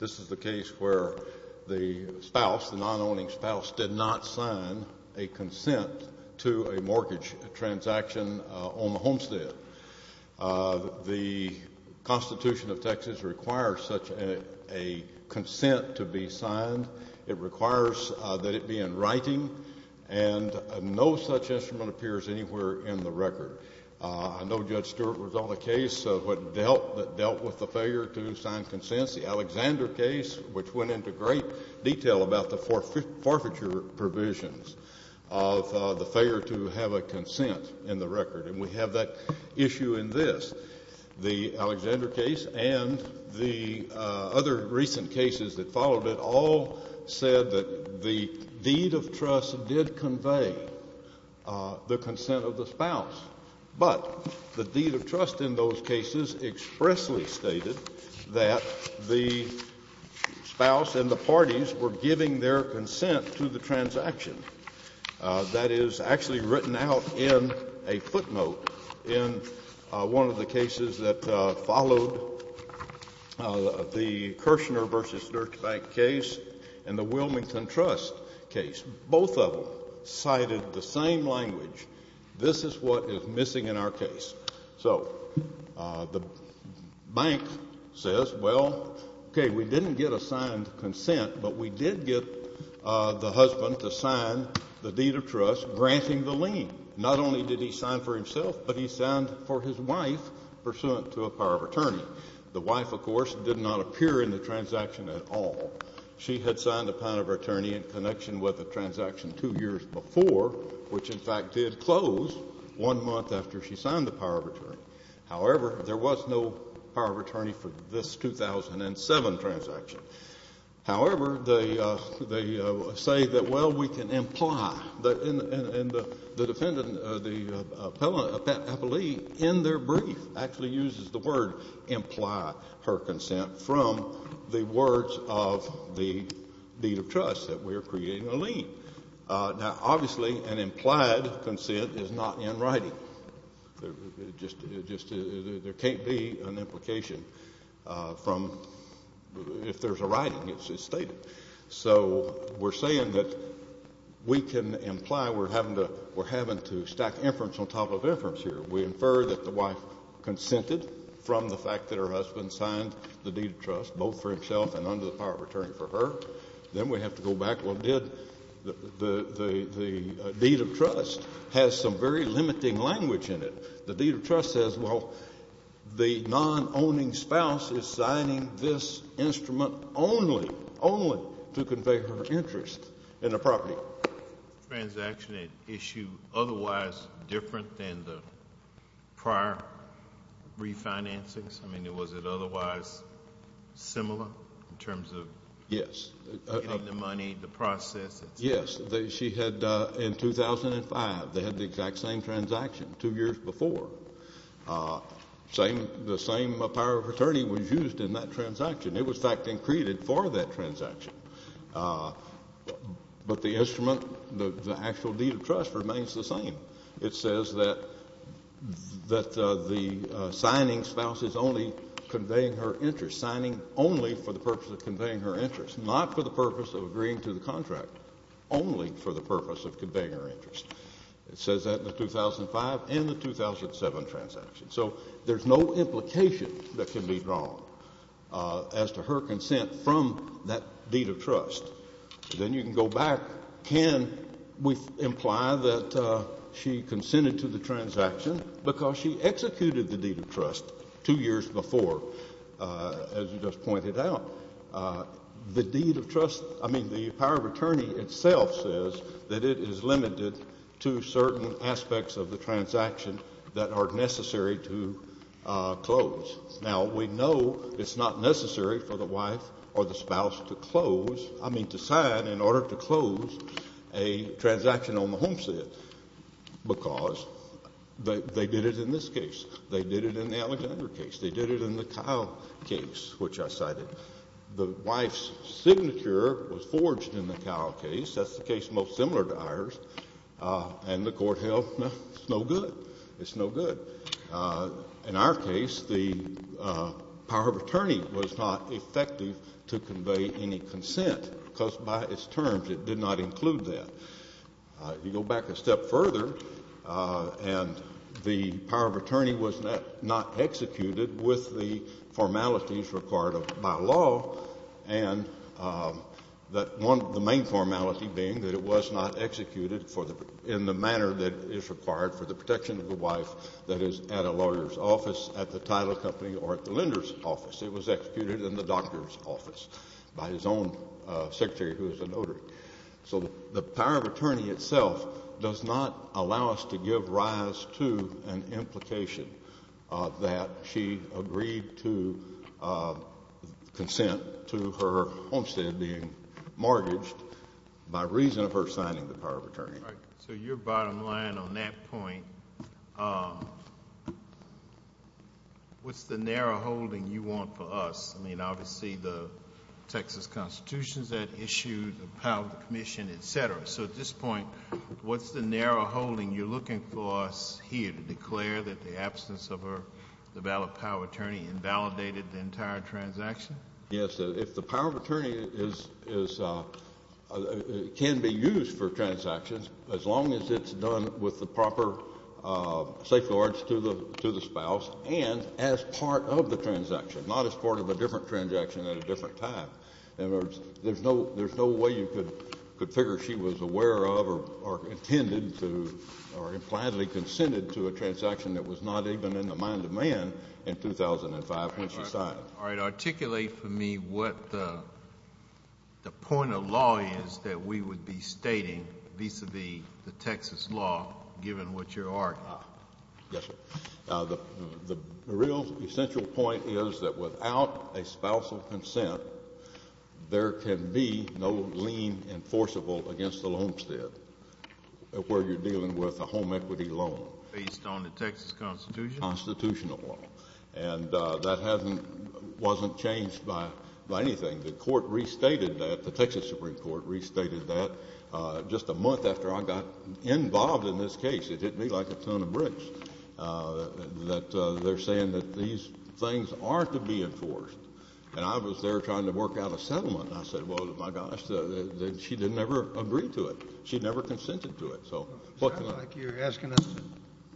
This is the case where the spouse, the non-owning spouse, did not sign a consent to a mortgage transaction on the homestead. The Constitution of Texas requires such a consent to be signed. It requires that it be in writing, and no such instrument appears anywhere in the record. I know Judge Stewart was on the case of what dealt with the failure to sign consents. The Alexander case, which went into great detail about the forfeiture provisions of the failure to have a consent in the record, and we have that issue in this. The Alexander case and the other recent cases that followed it all said that the deed of the spouse, but the deed of trust in those cases expressly stated that the spouse and the parties were giving their consent to the transaction. That is actually written out in a footnote in one of the cases that followed the Kirshner v. Dirks Bank case and the Wilmington Trust case. Both of them cited the same language. This is what is missing in our case. So the bank says, well, okay, we didn't get a signed consent, but we did get the husband to sign the deed of trust, granting the lien. Not only did he sign for himself, but he signed for his wife pursuant to a power of attorney. The wife, of course, did not appear in the transaction at all. She had signed a power of attorney in connection with the transaction two years before, which in fact did close one month after she signed the power of attorney. However, there was no power of attorney for this 2007 transaction. However, they say that, well, we can imply, and the defendant, the appellee, in their brief actually uses the word imply her consent from the words of the deed of trust that we are creating a lien. Now, obviously, an implied consent is not in writing. It just — there can't be an implication from — if there's a writing, it's just stated. So we're saying that we can imply we're having to stack inference on top of inference here. We infer that the wife consented from the fact that her husband signed the deed of trust, both for himself and under the power of attorney for her. Then we have to go back, well, did — the deed of trust has some very limiting language in it. The deed of trust says, well, the non-owning spouse is signing this instrument only, only to convey her interest in the property. Transaction, an issue otherwise different than the prior refinancings? Yes. Getting the money, the process. Yes. She had, in 2005, they had the exact same transaction two years before. The same power of attorney was used in that transaction. It was fact-increted for that transaction. But the instrument, the actual deed of trust remains the same. It says that the signing spouse is only conveying her interest, signing only for the purpose of conveying her interest, not for the purpose of agreeing to the contract, only for the purpose of conveying her interest. It says that in the 2005 and the 2007 transaction. So there's no implication that can be drawn as to her consent from that deed of trust. Then you can go back, can we imply that she consented to the transaction because she executed the deed of trust two years before, as you just pointed out? The deed of trust, I mean, the power of attorney itself says that it is limited to certain aspects of the transaction that are necessary to close. Now we know it's not necessary for the wife or the spouse to close, I mean, to sign in the transaction on the homestead, because they did it in this case, they did it in the Alexander case, they did it in the Kyle case, which I cited. The wife's signature was forged in the Kyle case, that's the case most similar to ours, and the Court held, no, it's no good, it's no good. In our case, the power of attorney was not effective to convey any consent, because by its terms it did not include that. If you go back a step further, and the power of attorney was not executed with the formalities required by law, and that one, the main formality being that it was not executed in the manner that is required for the protection of the wife that is at a lawyer's office, at the title company, or at the lender's office, it was executed in the doctor's office by his own secretary, who is a notary. So the power of attorney itself does not allow us to give rise to an implication that she agreed to consent to her homestead being mortgaged by reason of her signing the power of attorney. So your bottom line on that point, what's the narrow holding you want for us? I mean, obviously, the Texas Constitution is at issue, the power of the Commission, et cetera. So at this point, what's the narrow holding you're looking for us here to declare that the absence of the valid power of attorney invalidated the entire transaction? Yes. If the power of attorney can be used for transactions, as long as it's done with the proper safeguards to the spouse, and as part of the transaction, not as part of a different transaction at a different time. In other words, there's no way you could figure she was aware of or intended to or impliedly consented to a transaction that was not even in the mind of man in 2005 when she signed. All right. Articulate for me what the point of law is that we would be stating vis-à-vis the Texas law, given what you're arguing. Yes, sir. The real essential point is that without a spousal consent, there can be no lien enforceable against the homestead where you're dealing with a home equity loan. Based on the Texas Constitution? Constitutional law. And that hasn't — wasn't changed by anything. The court restated that, the Texas Supreme Court restated that just a month after I got involved in this case. It hit me like a ton of bricks, that they're saying that these things are to be enforced. And I was there trying to work out a settlement, and I said, well, my gosh, she didn't ever agree to it. She never consented to it. So what can I — Sounds like you're asking us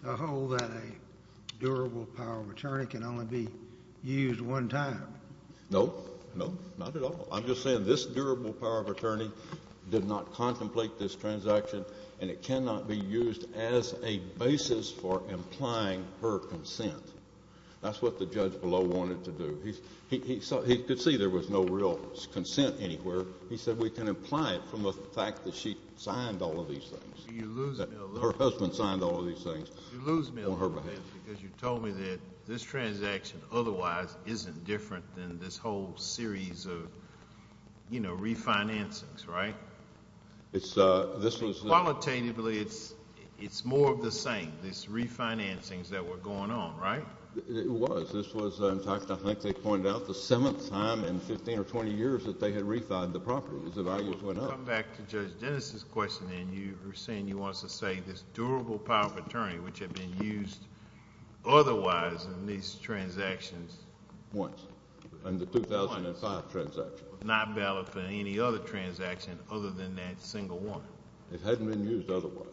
to hold that a durable power of attorney can only be used one time. No. No. Not at all. I'm just saying this durable power of attorney did not contemplate this transaction, and it cannot be used as a basis for implying her consent. That's what the judge below wanted to do. He could see there was no real consent anywhere. He said, we can imply it from the fact that she signed all of these things, that her husband signed all of these things on her behalf. You lose me a little bit, because you told me that this transaction otherwise isn't different than this whole series of, you know, refinancings, right? It's — This was — Qualitatively, it's more of the same, these refinancings that were going on, right? It was. This was, in fact, I think they pointed out, the seventh time in 15 or 20 years that they had refined the property. The values went up. You come back to Judge Dennis's question, and you were saying you wanted to say this durable power of attorney, which had been used otherwise in these transactions — Once. Once. In the 2005 transaction. But it was not valid for any other transaction other than that single one. It hadn't been used otherwise.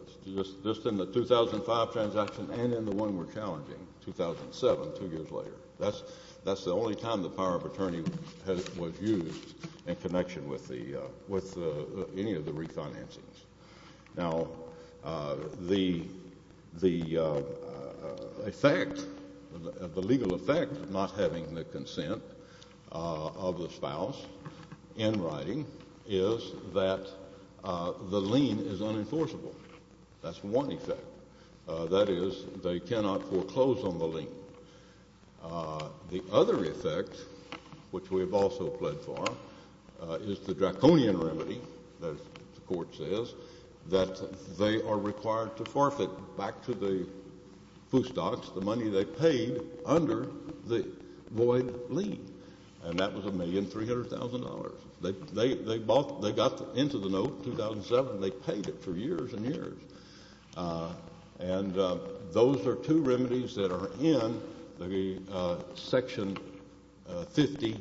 Just in the 2005 transaction and in the one we're challenging, 2007, two years later. That's the only time the power of attorney was used in connection with any of the refinancings. Now, the effect — the legal effect of not having the consent of the spouse in writing is that the lien is unenforceable. That's one effect. That is, they cannot foreclose on the lien. The other effect, which we have also pled for, is the draconian remedy, as the court says, that they are required to forfeit back to the foo stocks the money they paid under the void lien. And that was $1,300,000. They got into the note in 2007. They paid it for years and years. And those are two remedies that are in the Section 50XI,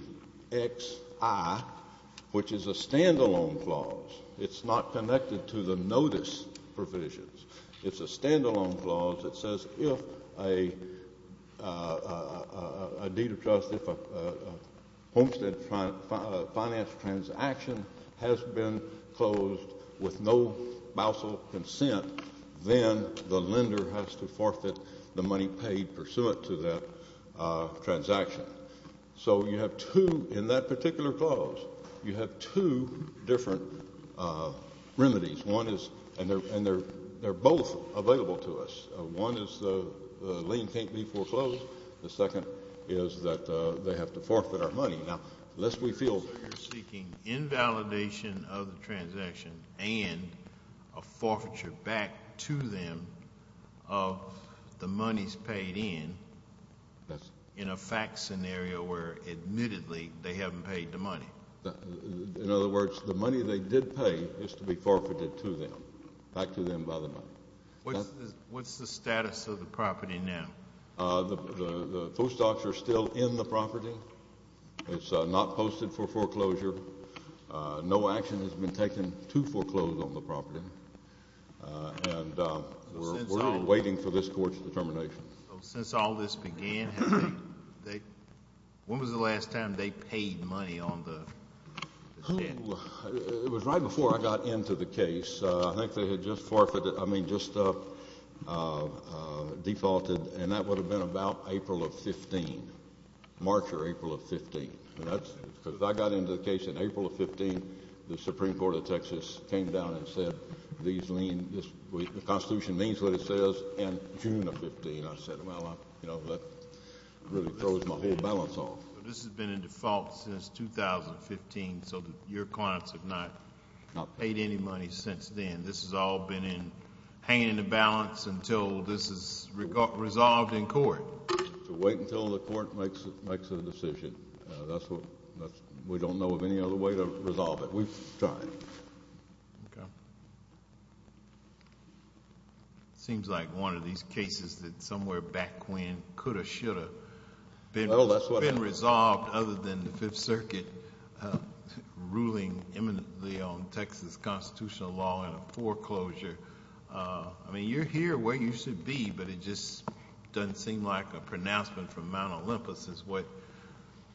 which is a stand-alone clause. It's not connected to the notice provisions. It's a stand-alone clause that says if a deed of trust, if a homestead finance transaction has been closed with no bousal consent, then the lender has to forfeit the money paid pursuant to that transaction. So you have two — in that particular clause, you have two different remedies. One is — and they're both available to us. One is the lien can't be foreclosed. The second is that they have to forfeit our money. Now, unless we feel — So you're seeking invalidation of the transaction and a forfeiture back to them of the monies paid in, in a fact scenario where, admittedly, they haven't paid the money? In other words, the money they did pay is to be forfeited to them, back to them by the money. What's the status of the property now? The postdocs are still in the property. It's not posted for foreclosure. No action has been taken to foreclose on the property. And we're waiting for this court's determination. Since all this began, when was the last time they paid money on the — It was right before I got into the case. I think they had just forfeited — I mean, just defaulted. And that would have been about April of 15, March or April of 15. And that's — because I got into the case in April of 15. The Supreme Court of Texas came down and said these lien — the Constitution means what it says in June of 15. I said, well, you know, that really throws my whole balance off. This has been in default since 2015, so your clients have not paid any money since then. And this has all been hanging in the balance until this is resolved in court. So wait until the court makes a decision. That's what — we don't know of any other way to resolve it. We've tried. Okay. It seems like one of these cases that somewhere back when could have, should have — Well, that's what happened. — other than the Fifth Circuit ruling eminently on Texas constitutional law and a foreclosure. I mean, you're here where you should be, but it just doesn't seem like a pronouncement from Mount Olympus is what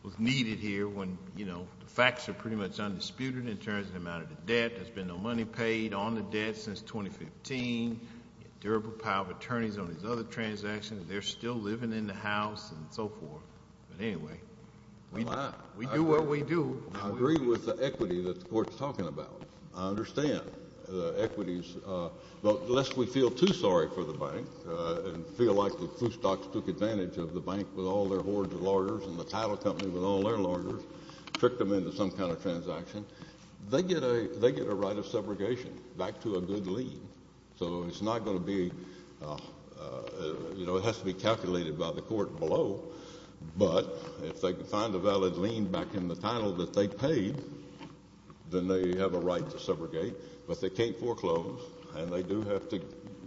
was needed here when, you know, the facts are pretty much undisputed in terms of the amount of the debt. There's been no money paid on the debt since 2015. Durable power of attorneys on these other transactions. They're still living in the House and so forth. But anyway, we do what we do. I agree with the equity that the court's talking about. I understand the equities. But lest we feel too sorry for the bank and feel like the food stocks took advantage of the bank with all their hoards of larders and the title company with all their larders, tricked them into some kind of transaction, they get a right of separation back to a good lien. So it's not going to be — you know, it has to be calculated by the court below. But if they can find a valid lien back in the title that they paid, then they have a right to separate. But they can't foreclose. And they do have to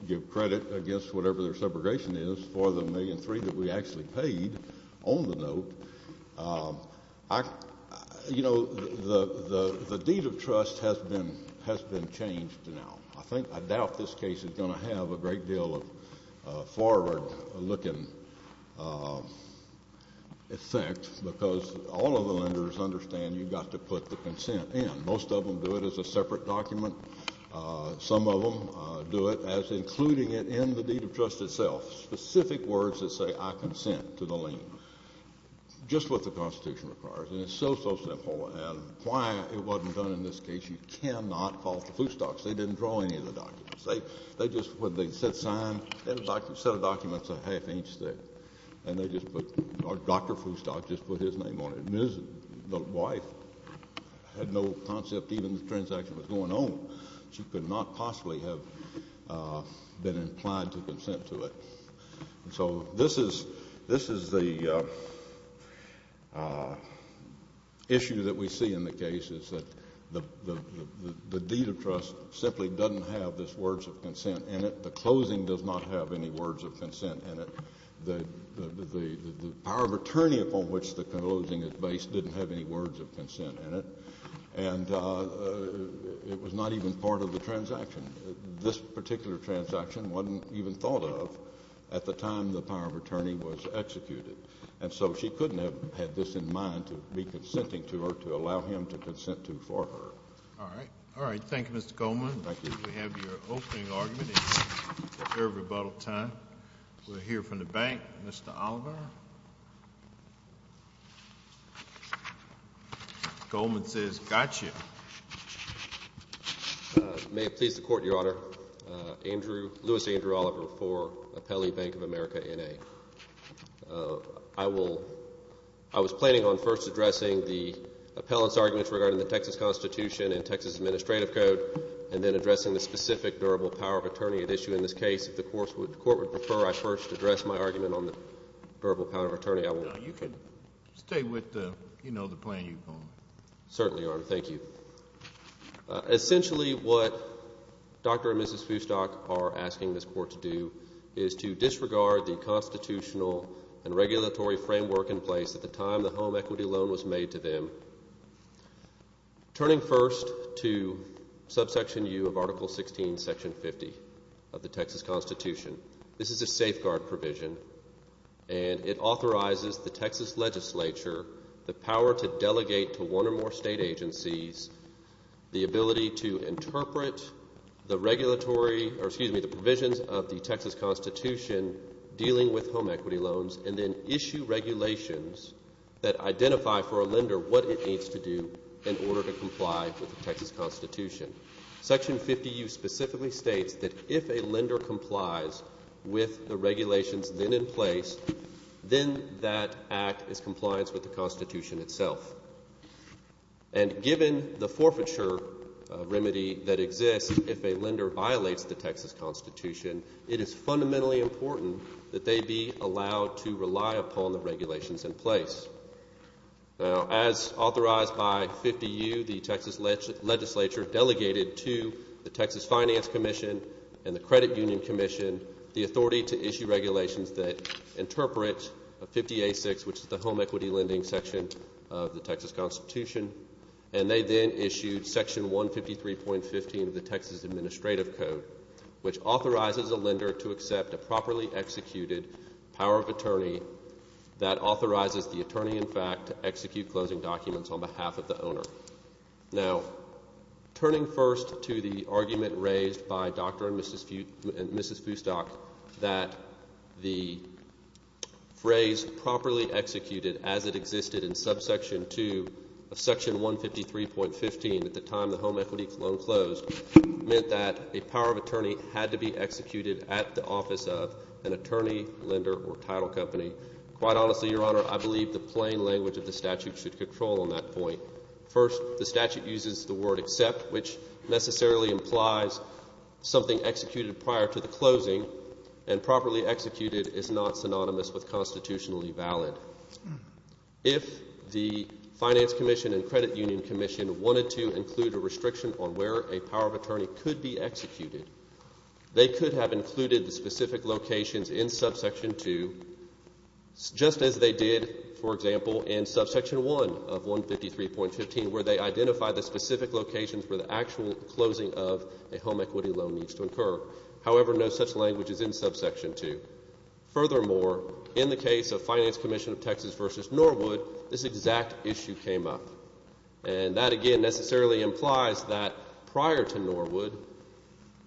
give credit against whatever their separation is for the $1.3 million that we actually paid on the note. You know, the deed of trust has been changed now. I think — I doubt this case is going to have a great deal of forward-looking effect because all of the lenders understand you've got to put the consent in. Most of them do it as a separate document. Some of them do it as including it in the deed of trust itself. Specific words that say, I consent to the lien. Just what the Constitution requires. And it's so, so simple. And why it wasn't done in this case, you cannot fault the food stocks. They didn't draw any of the documents. They just — when they said sign, they had a set of documents a half-inch thick. And they just put — or Dr. Foodstock just put his name on it. And his wife had no concept even the transaction was going on. She could not possibly have been implied to consent to it. So this is — this is the issue that we see in the cases that the deed of trust simply doesn't have these words of consent in it. The closing does not have any words of consent in it. The power of attorney upon which the closing is based didn't have any words of consent in it. And it was not even part of the transaction. This particular transaction wasn't even thought of at the time the power of attorney was executed. And so she couldn't have had this in mind, to be consenting to her, to allow him to consent to it for her. All right. All right. Thank you, Mr. Goldman. Thank you. We have your opening argument in favor of rebuttal time. We'll hear from the bank. Mr. Oliver? Goldman says, gotcha. May it please the Court, Your Honor. Andrew — Louis Andrew Oliver for Appellee Bank of America, N.A. I will — I was planning on first addressing the appellant's arguments regarding the Texas Constitution and Texas Administrative Code and then addressing the specific durable power of attorney at issue in this case. If the Court would prefer I first address my argument on the durable power of attorney, I will — No, you can stay with the — you know, the plan you've gone with. Certainly, Your Honor. Thank you. Essentially what Dr. and Mrs. Foustock are asking this Court to do is to disregard the constitutional and regulatory framework in place at the time the home equity loan was made to them, turning first to subsection U of Article 16, Section 50 of the Texas Constitution. This is a safeguard provision, and it authorizes the Texas legislature the power to delegate to one or more state agencies the ability to interpret the regulatory — or, excuse me, the provisions of the Texas Constitution dealing with home equity loans, and then issue regulations that identify for a lender what it needs to do in order to comply with the Texas Constitution. Section 50U specifically states that if a lender complies with the regulations then in place, then that act is compliance with the Constitution itself. And given the forfeiture remedy that exists if a lender violates the Texas Constitution, it is fundamentally important that they be allowed to rely upon the regulations in place. Now, as authorized by 50U, the Texas legislature delegated to the Texas Finance Commission and the Credit Union Commission the authority to issue regulations that interpret 50A6, which is the home equity lending section of the Texas Constitution. And they then issued Section 153.15 of the Texas Administrative Code, which authorizes a lender to accept a properly executed power of attorney that authorizes the attorney, in fact, to execute closing documents on behalf of the owner. Now, turning first to the argument raised by Dr. and Mrs. Fustock that the phrase properly executed as it existed in subsection 2 of Section 153.15 at the time the home equity loan closed meant that a power of attorney had to be executed at the office of an attorney, lender, or title company. Quite honestly, Your Honor, I believe the plain language of the statute should control on that point. First, the statute uses the word accept, which necessarily implies something executed prior to the closing, and properly executed is not synonymous with constitutionally valid. If the Finance Commission and Credit Union Commission wanted to include a restriction on where a power of attorney could be executed, they could have included the specific locations in subsection 2, just as they did, for example, in subsection 1 of 153.15 where they identified the specific locations where the actual closing of a home equity loan needs to occur. However, no such language is in subsection 2. Furthermore, in the case of Finance Commission of Texas v. Norwood, this exact issue came up. And that, again, necessarily implies that prior to Norwood,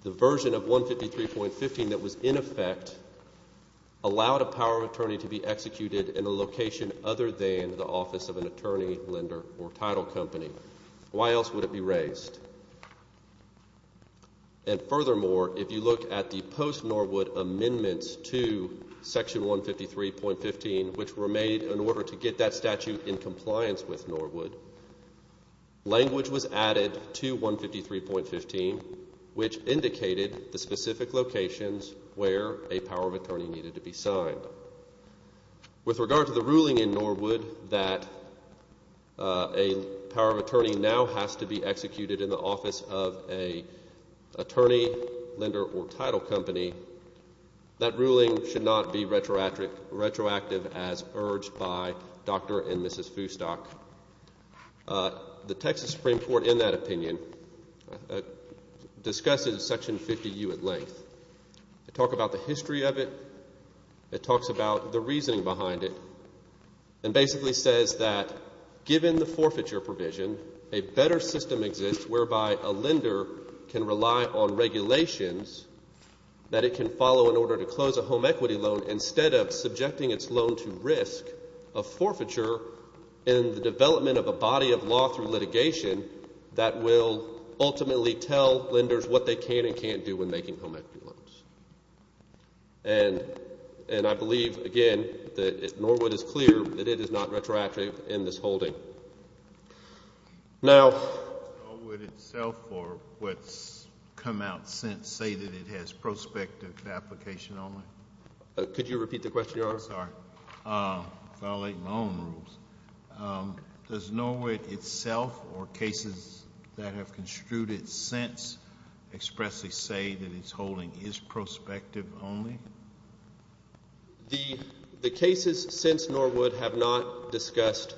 the version of 153.15 that was in effect allowed a power of attorney to be executed in a location other than the office of an attorney, lender, or title company. Why else would it be raised? And furthermore, if you look at the post-Norwood amendments to section 153.15, which were made in order to get that statute in compliance with Norwood, language was added to 153.15, which indicated the specific locations where a power of attorney needed to be signed. With regard to the ruling in Norwood that a power of attorney now has to be executed in the office of an attorney, lender, or title company, that ruling should not be retroactive as urged by Dr. and Mrs. Foustock. The Texas Supreme Court, in that opinion, discusses section 50U at length. They talk about the history of it, it talks about the reasoning behind it, and basically says that given the forfeiture provision, a better system exists whereby a lender can rely on regulations that it can follow in order to close a home equity loan instead of subjecting its loan to risk of forfeiture in the development of a body of law through litigation that will ultimately tell lenders what they can and can't do when making home equity loans. And I believe, again, that Norwood is clear that it is not retroactive in this holding. Norwood itself or what's come out since say that it has prospective application only? Could you repeat the question, Your Honor? I'm sorry. I'm violating my own rules. Does Norwood itself or cases that have construed it since expressly say that it's holding is prospective only? The cases since Norwood have not discussed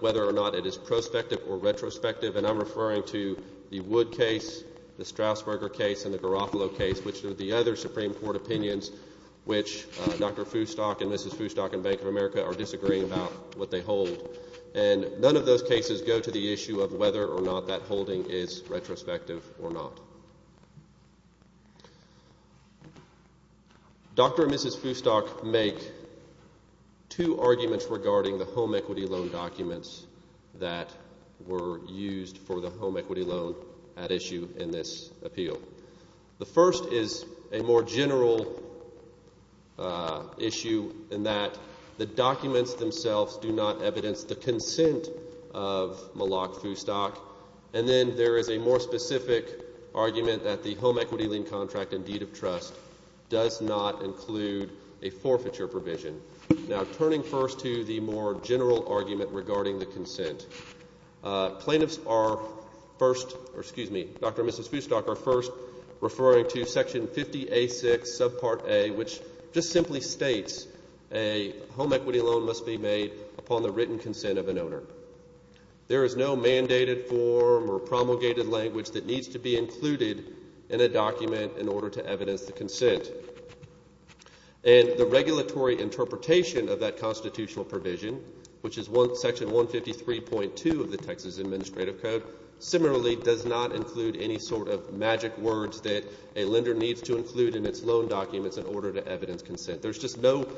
whether or not it is prospective or retrospective, and I'm referring to the Wood case, the Strausberger case, and the Garofalo case, which are the other Supreme Court opinions which Dr. Foostock and Mrs. Foostock in Bank of America are disagreeing about what they hold. And none of those cases go to the issue of whether or not that holding is retrospective or not. Dr. and Mrs. Foostock make two arguments regarding the home equity loan documents that were used for the home equity loan at issue in this appeal. The first is a more general issue in that the documents themselves do not evidence the consent of Malak Foostock. And then there is a more specific argument that the home equity lien contract and deed of trust does not include a forfeiture provision. Now, turning first to the more general argument regarding the consent, plaintiffs are first, or excuse me, Dr. and Mrs. Foostock are first referring to section 50A6 subpart A, which just simply states a home equity loan must be made upon the written consent of an owner. There is no mandated form or promulgated language that needs to be included in a document in order to evidence the consent. And the regulatory interpretation of that constitutional provision, which is section 153.2 of the Texas Administrative Code, similarly does not include any sort of magic words that a lender needs to include in its loan documents in order to evidence consent. There's just no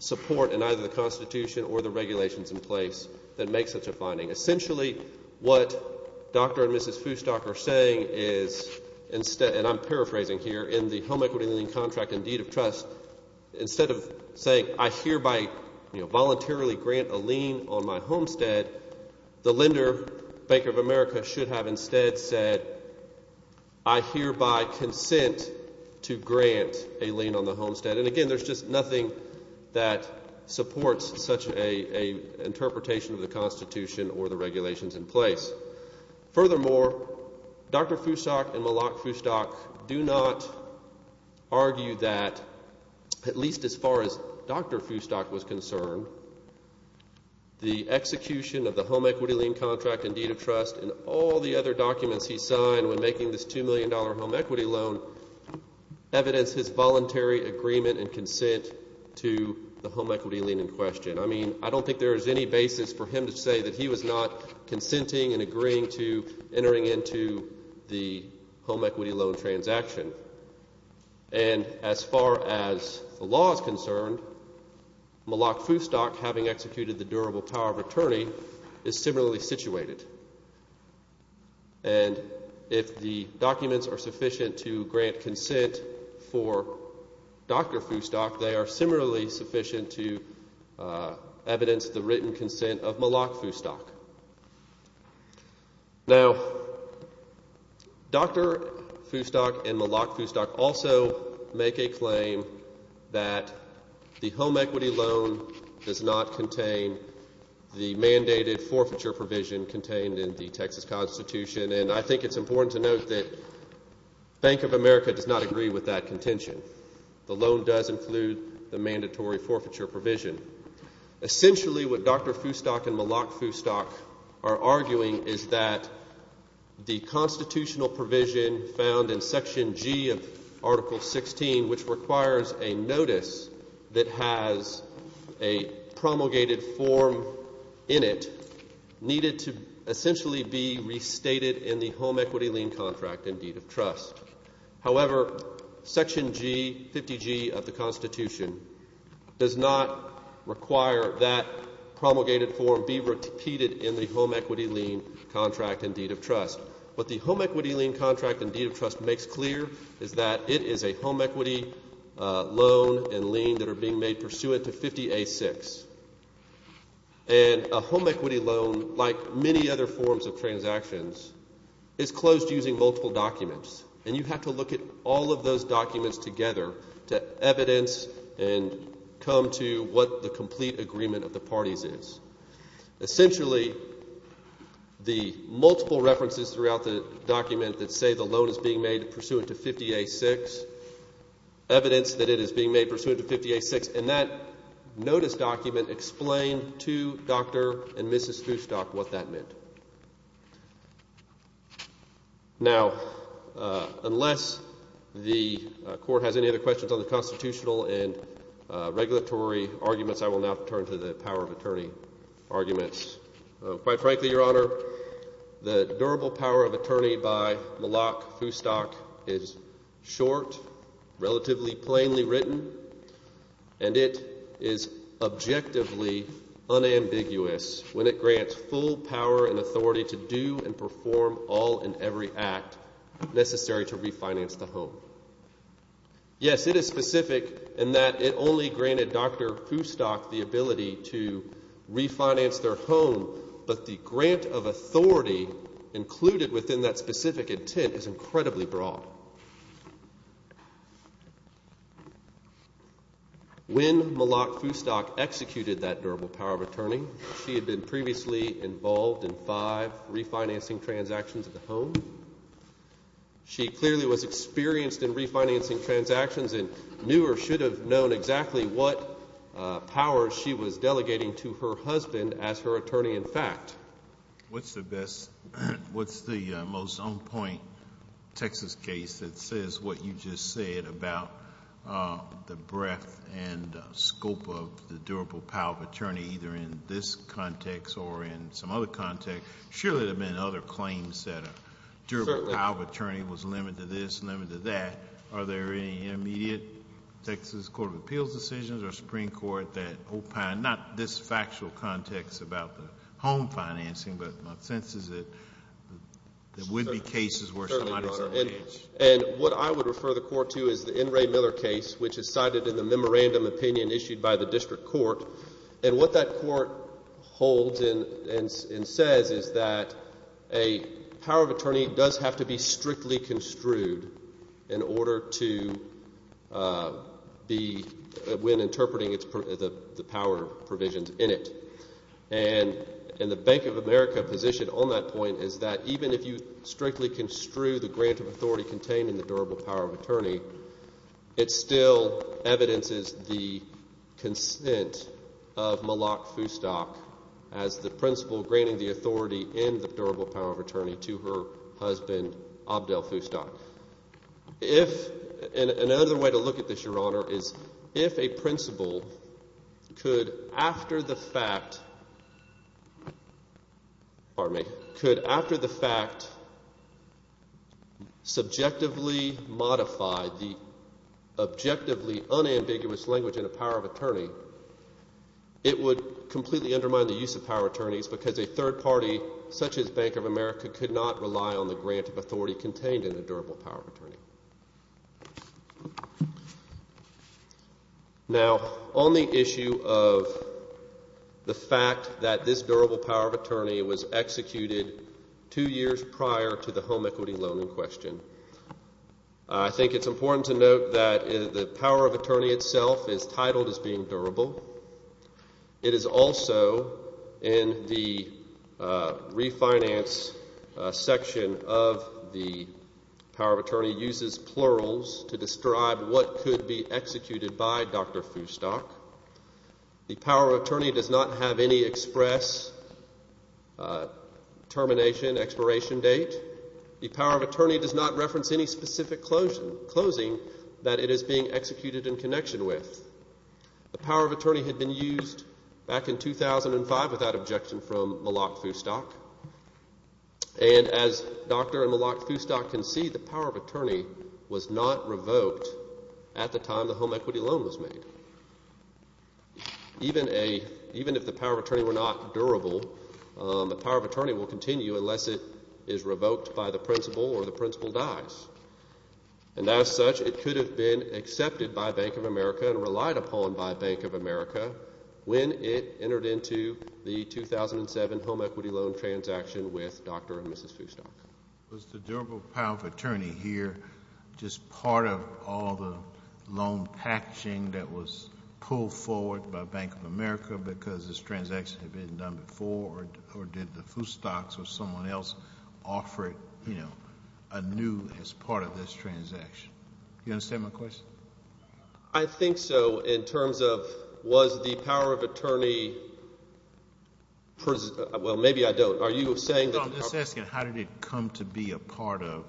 support in either the Constitution or the regulations in place that makes such a finding. Essentially, what Dr. and Mrs. Foostock are saying is, and I'm paraphrasing here, in the home equity lien contract and deed of trust, instead of saying, I hereby voluntarily grant a lien on my homestead, the lender, Bank of America, should have instead said, I hereby consent to grant a lien on the homestead. And again, there's just nothing that supports such an interpretation of the Constitution or the regulations in place. Furthermore, Dr. Foostock and Malak Foostock do not argue that at least as far as Dr. Foostock was concerned, the execution of the home equity lien contract and deed of trust and all the other documents he signed when making this $2 million home equity loan evidence his voluntary agreement and consent to the home equity lien in question. I mean, I don't think there is any basis for him to say that he was not consenting and agreeing to entering into the home equity loan transaction. And as far as the law is concerned, Malak Foostock, having executed the durable power of attorney, is similarly situated. And if the documents are sufficient to grant consent for Dr. Foostock, they are similarly sufficient to evidence the written consent of Malak Foostock. Now, Dr. Foostock and Malak Foostock also make a claim that the home equity loan does not contain the mandated forfeiture provision contained in the Texas Constitution. And I think it's important to note that Bank of America does not agree with that contention. The loan does include the mandatory forfeiture provision. Essentially, what Dr. Foostock and Malak Foostock are arguing is that the constitutional provision found in Section G of Article 16, which requires a notice that has a promulgated form in it, needed to essentially be restated in the home equity lien contract and deed of trust. However, Section G, 50G of the Constitution, does not require that promulgated form be repeated in the home equity lien contract and deed of trust. What the home equity lien contract and deed of trust makes clear is that it is a home equity loan and lien that are being made pursuant to 50A6. And a home equity loan, like many other forms of transactions, is closed using multiple documents. And you have to look at all of those documents together to evidence and come to what the complete agreement of the parties is. Essentially, the multiple references throughout the document that say the loan is being made pursuant to 50A6, evidence that it is being made pursuant to 50A6, and that notice document explain to Dr. and Mrs. Foostock what that meant. Now, unless the Court has any other questions on the constitutional and regulatory arguments, I will now turn to the power of attorney arguments. Quite frankly, Your Honor, the durable power of attorney by Malak Foostock is short, relatively plainly written, and it is objectively unambiguous when it grants full power and authority to do and perform all and every act necessary to refinance the home. Yes, it is specific in that it only granted Dr. Foostock the ability to refinance their home, but the grant of authority included within that specific intent is incredibly broad. When Malak Foostock executed that durable power of attorney, she had been previously involved in five refinancing transactions at the home. She clearly was experienced in refinancing transactions and knew or should have known exactly what powers she was delegating to her husband as her attorney-in-fact. What's the best, what's the most on-point Texas case? It says what you just said about the breadth and scope of the durable power of attorney, either in this context or in some other context. Surely there have been other claims that a durable power of attorney was limited to this, limited to that. Are there any immediate Texas Court of Appeals decisions or Supreme Court that opine, not this factual context about the home financing, but my sense is that there would be cases where it's not exactly the case. And what I would refer the Court to is the N. Ray Miller case, which is cited in the memorandum opinion issued by the district court. And what that court holds and says is that a power of attorney does have to be strictly construed in order to be, when interpreting the power provisions in it. And the Bank of America position on that point is that even if you strictly construe the grant of authority contained in the durable power of attorney, it still evidences the consent of Malak Foustock as the principal granting the authority in the durable power of attorney to her husband, Abdel Foustock. If, and another way to look at this, Your Honor, is if a principal could, after the fact, pardon me, could after the fact subjectively modify the objectively unambiguous language in a power of attorney, it would completely undermine the use of power of attorneys because a third party such as Bank of America could not rely on the grant Now, on the issue of the fact that this durable power of attorney was executed two years prior to the home equity loan in question, I think it's important to note that the power of attorney itself is titled as being durable. It is also in the refinance section of the power of attorney where the power of attorney uses plurals to describe what could be executed by Dr. Foustock. The power of attorney does not have any express termination, expiration date. The power of attorney does not reference any specific closing that it is being executed in connection with. The power of attorney had been used back in 2005 without objection from Malak Foustock. And as Dr. Malak Foustock can see, the power of attorney was not revoked at the time the home equity loan was made. Even if the power of attorney were not durable, the power of attorney will continue unless it is revoked by the principal or the principal dies. And as such, it could have been accepted by Bank of America and relied upon by Bank of America when it entered into the 2007 home equity loan transaction with Dr. and Mrs. Foustock. Was the durable power of attorney here just part of all the loan packaging that was pulled forward by Bank of America because this transaction had been done before? Or did the Foustocks or someone else offer it, you know, anew as part of this transaction? Do you understand my question? I think so in terms of was the power of attorney... Well, maybe I don't. Are you saying that... No, I'm just asking how did it come to be a part of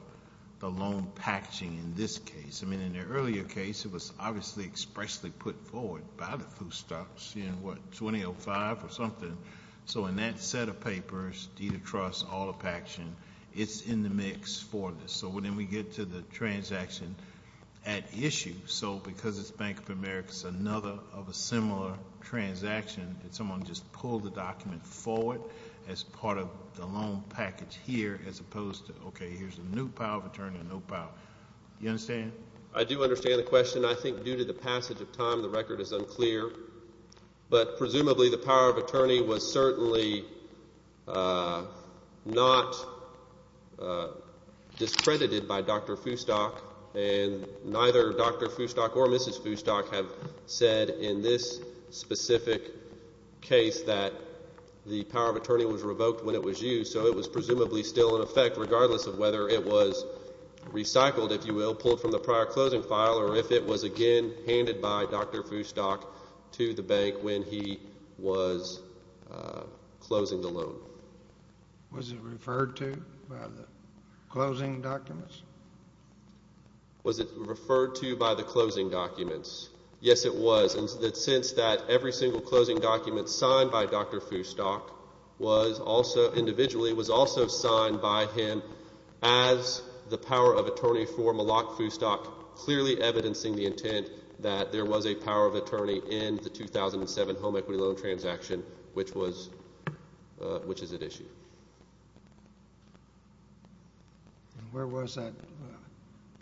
the loan packaging in this case? I mean, in the earlier case, it was obviously expressly put forward by the Foustocks, you know, what, 2005 or something. So in that set of papers, deed of trust, all the packaging, it's in the mix for this. So then we get to the transaction at issue. So because it's Bank of America, it's another of a similar transaction that someone just pulled the document forward as part of the loan package here as opposed to, okay, here's a new power of attorney and no power. Do you understand? I do understand the question. I think due to the passage of time, the record is unclear. But presumably the power of attorney was certainly not discredited by Dr. Foustock. And neither Dr. Foustock or Mrs. Foustock have said in this specific case that the power of attorney was revoked when it was used. So it was presumably still in effect regardless of whether it was recycled, if you will, pulled from the prior closing file, or if it was again handed by Dr. Foustock to the bank when he was closing the loan. Was it referred to by the closing documents? Was it referred to by the closing documents? Yes, it was. And since that every single closing document signed by Dr. Foustock was also individually, was also signed by him as the power of attorney for Malak Foustock clearly evidencing the intent that there was a power of attorney in the 2007 home equity loan transaction which was, which is at issue. Where was that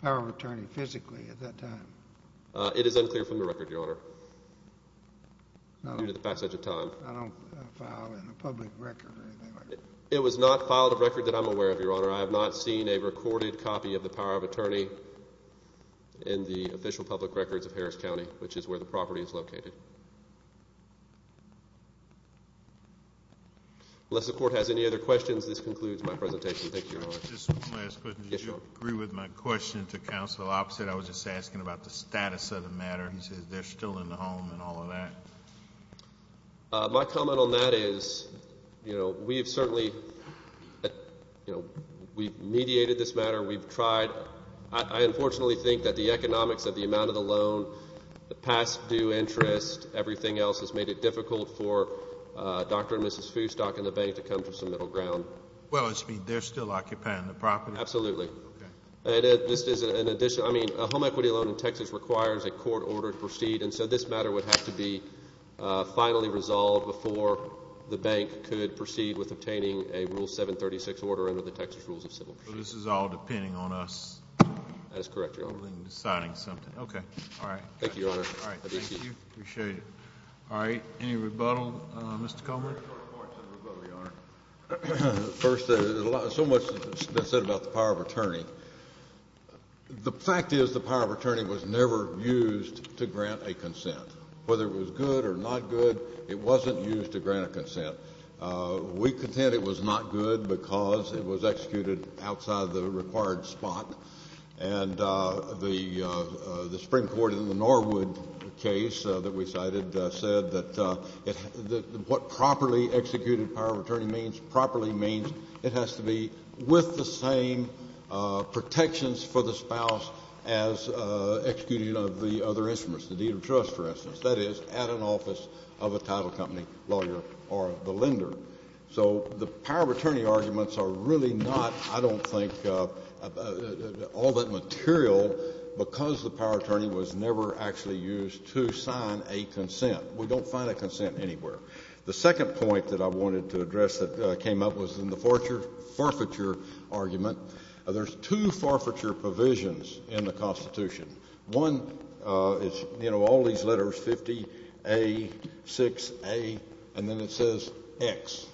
power of attorney physically at that time? It is unclear from the record, Your Honor, due to the passage of time. I don't file in a public record or anything like that. It was not filed a record that I'm aware of, Your Honor. I have not seen a recorded copy of the power of attorney in the official public records of Harris County, which is where the property is located. Unless the court has any other questions, this concludes my presentation. Thank you, Your Honor. Just one last question. Yes, Your Honor. Did you agree with my question to counsel opposite? I was just asking about the status of the matter. He says they're still in the home and all of that. My comment on that is, you know, we've certainly, you know, we've mediated this matter. We've tried. I unfortunately think that the economics of the amount of the loan, the past due interest, everything else has made it difficult for Dr. and Mrs. Foustock and the bank to come to some middle ground. Well, it means they're still occupying the property? Absolutely. Okay. And this is an addition. I mean, a home equity loan in Texas requires a court order to proceed, and so this matter would have to be finally resolved before the bank could proceed with obtaining a Rule 736 order under the Texas Rules of Civil Procedure. So this is all depending on us? That is correct, Your Honor. Deciding something. Okay. All right. Thank you, Your Honor. All right. Thank you. Appreciate it. All right. Any rebuttal, Mr. Comer? First, so much has been said about the power of attorney. The fact is the power of attorney was never used to grant a consent. Whether it was good or not good, it wasn't used to grant a consent. We contend it was not good because it was executed outside the required spot. And the Supreme Court in the Norwood case that we cited said that what properly executed power of attorney means, it has to be with the same protections for the spouse as executing of the other instruments, the deed of trust, for instance. That is, at an office of a title company lawyer or the lender. So the power of attorney arguments are really not, I don't think, all that material because the power of attorney was never actually used to sign a consent. We don't find a consent anywhere. The second point that I wanted to address that came up was in the forfeiture argument. There's two forfeiture provisions in the Constitution. One is, you know, all these letters, 50A, 6A, and then it says X.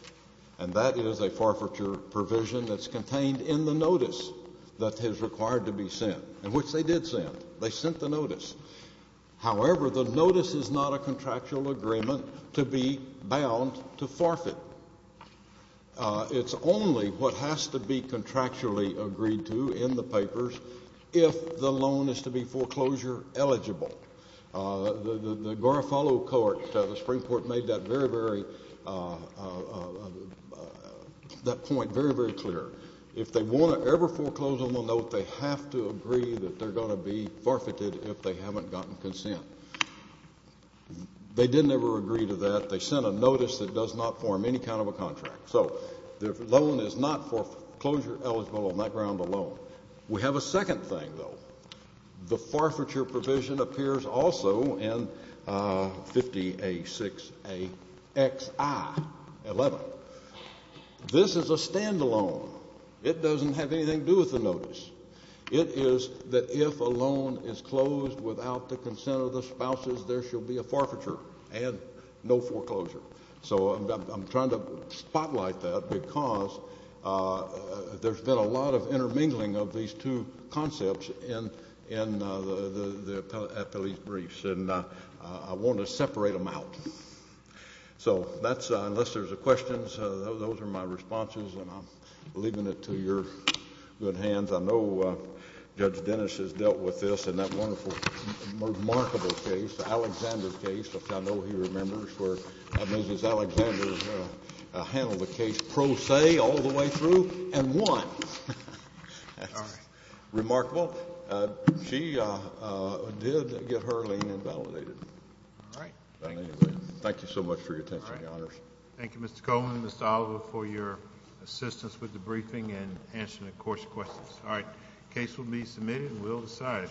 And that is a forfeiture provision that's contained in the notice that is required to be sent, which they did send. They sent the notice. However, the notice is not a contractual agreement to be bound to forfeit. It's only what has to be contractually agreed to in the papers if the loan is to be foreclosure eligible. The Garofalo Court, the Supreme Court made that very, very, that point very, very clear. If they want to ever foreclose on the note, they have to agree that they're going to be forfeited if they haven't gotten consent. They didn't ever agree to that. They sent a notice that does not form any kind of a contract. So the loan is not foreclosure eligible on that ground alone. We have a second thing, though. The forfeiture provision appears also in 50A, 6A, X, I, 11. This is a standalone. It doesn't have anything to do with the notice. It is that if a loan is closed without the consent of the spouses, there shall be a forfeiture and no foreclosure. So I'm trying to spotlight that because there's been a lot of intermingling of these two concepts in the appellee's briefs, and I want to separate them out. So that's, unless there's a question, those are my responses, and I'm leaving it to your good hands. I know Judge Dennis has dealt with this in that wonderful, remarkable case, Alexander's case, which I know he remembers, where Mrs. Alexander handled the case pro se all the way through and won. All right. Remarkable. She did get her lien invalidated. Thank you. Thank you so much for your attention, Your Honors. Thank you, Mr. Coleman and Mr. Oliver, for your assistance with the briefing and answering the Court's questions. All right. The case will be submitted and will be decided.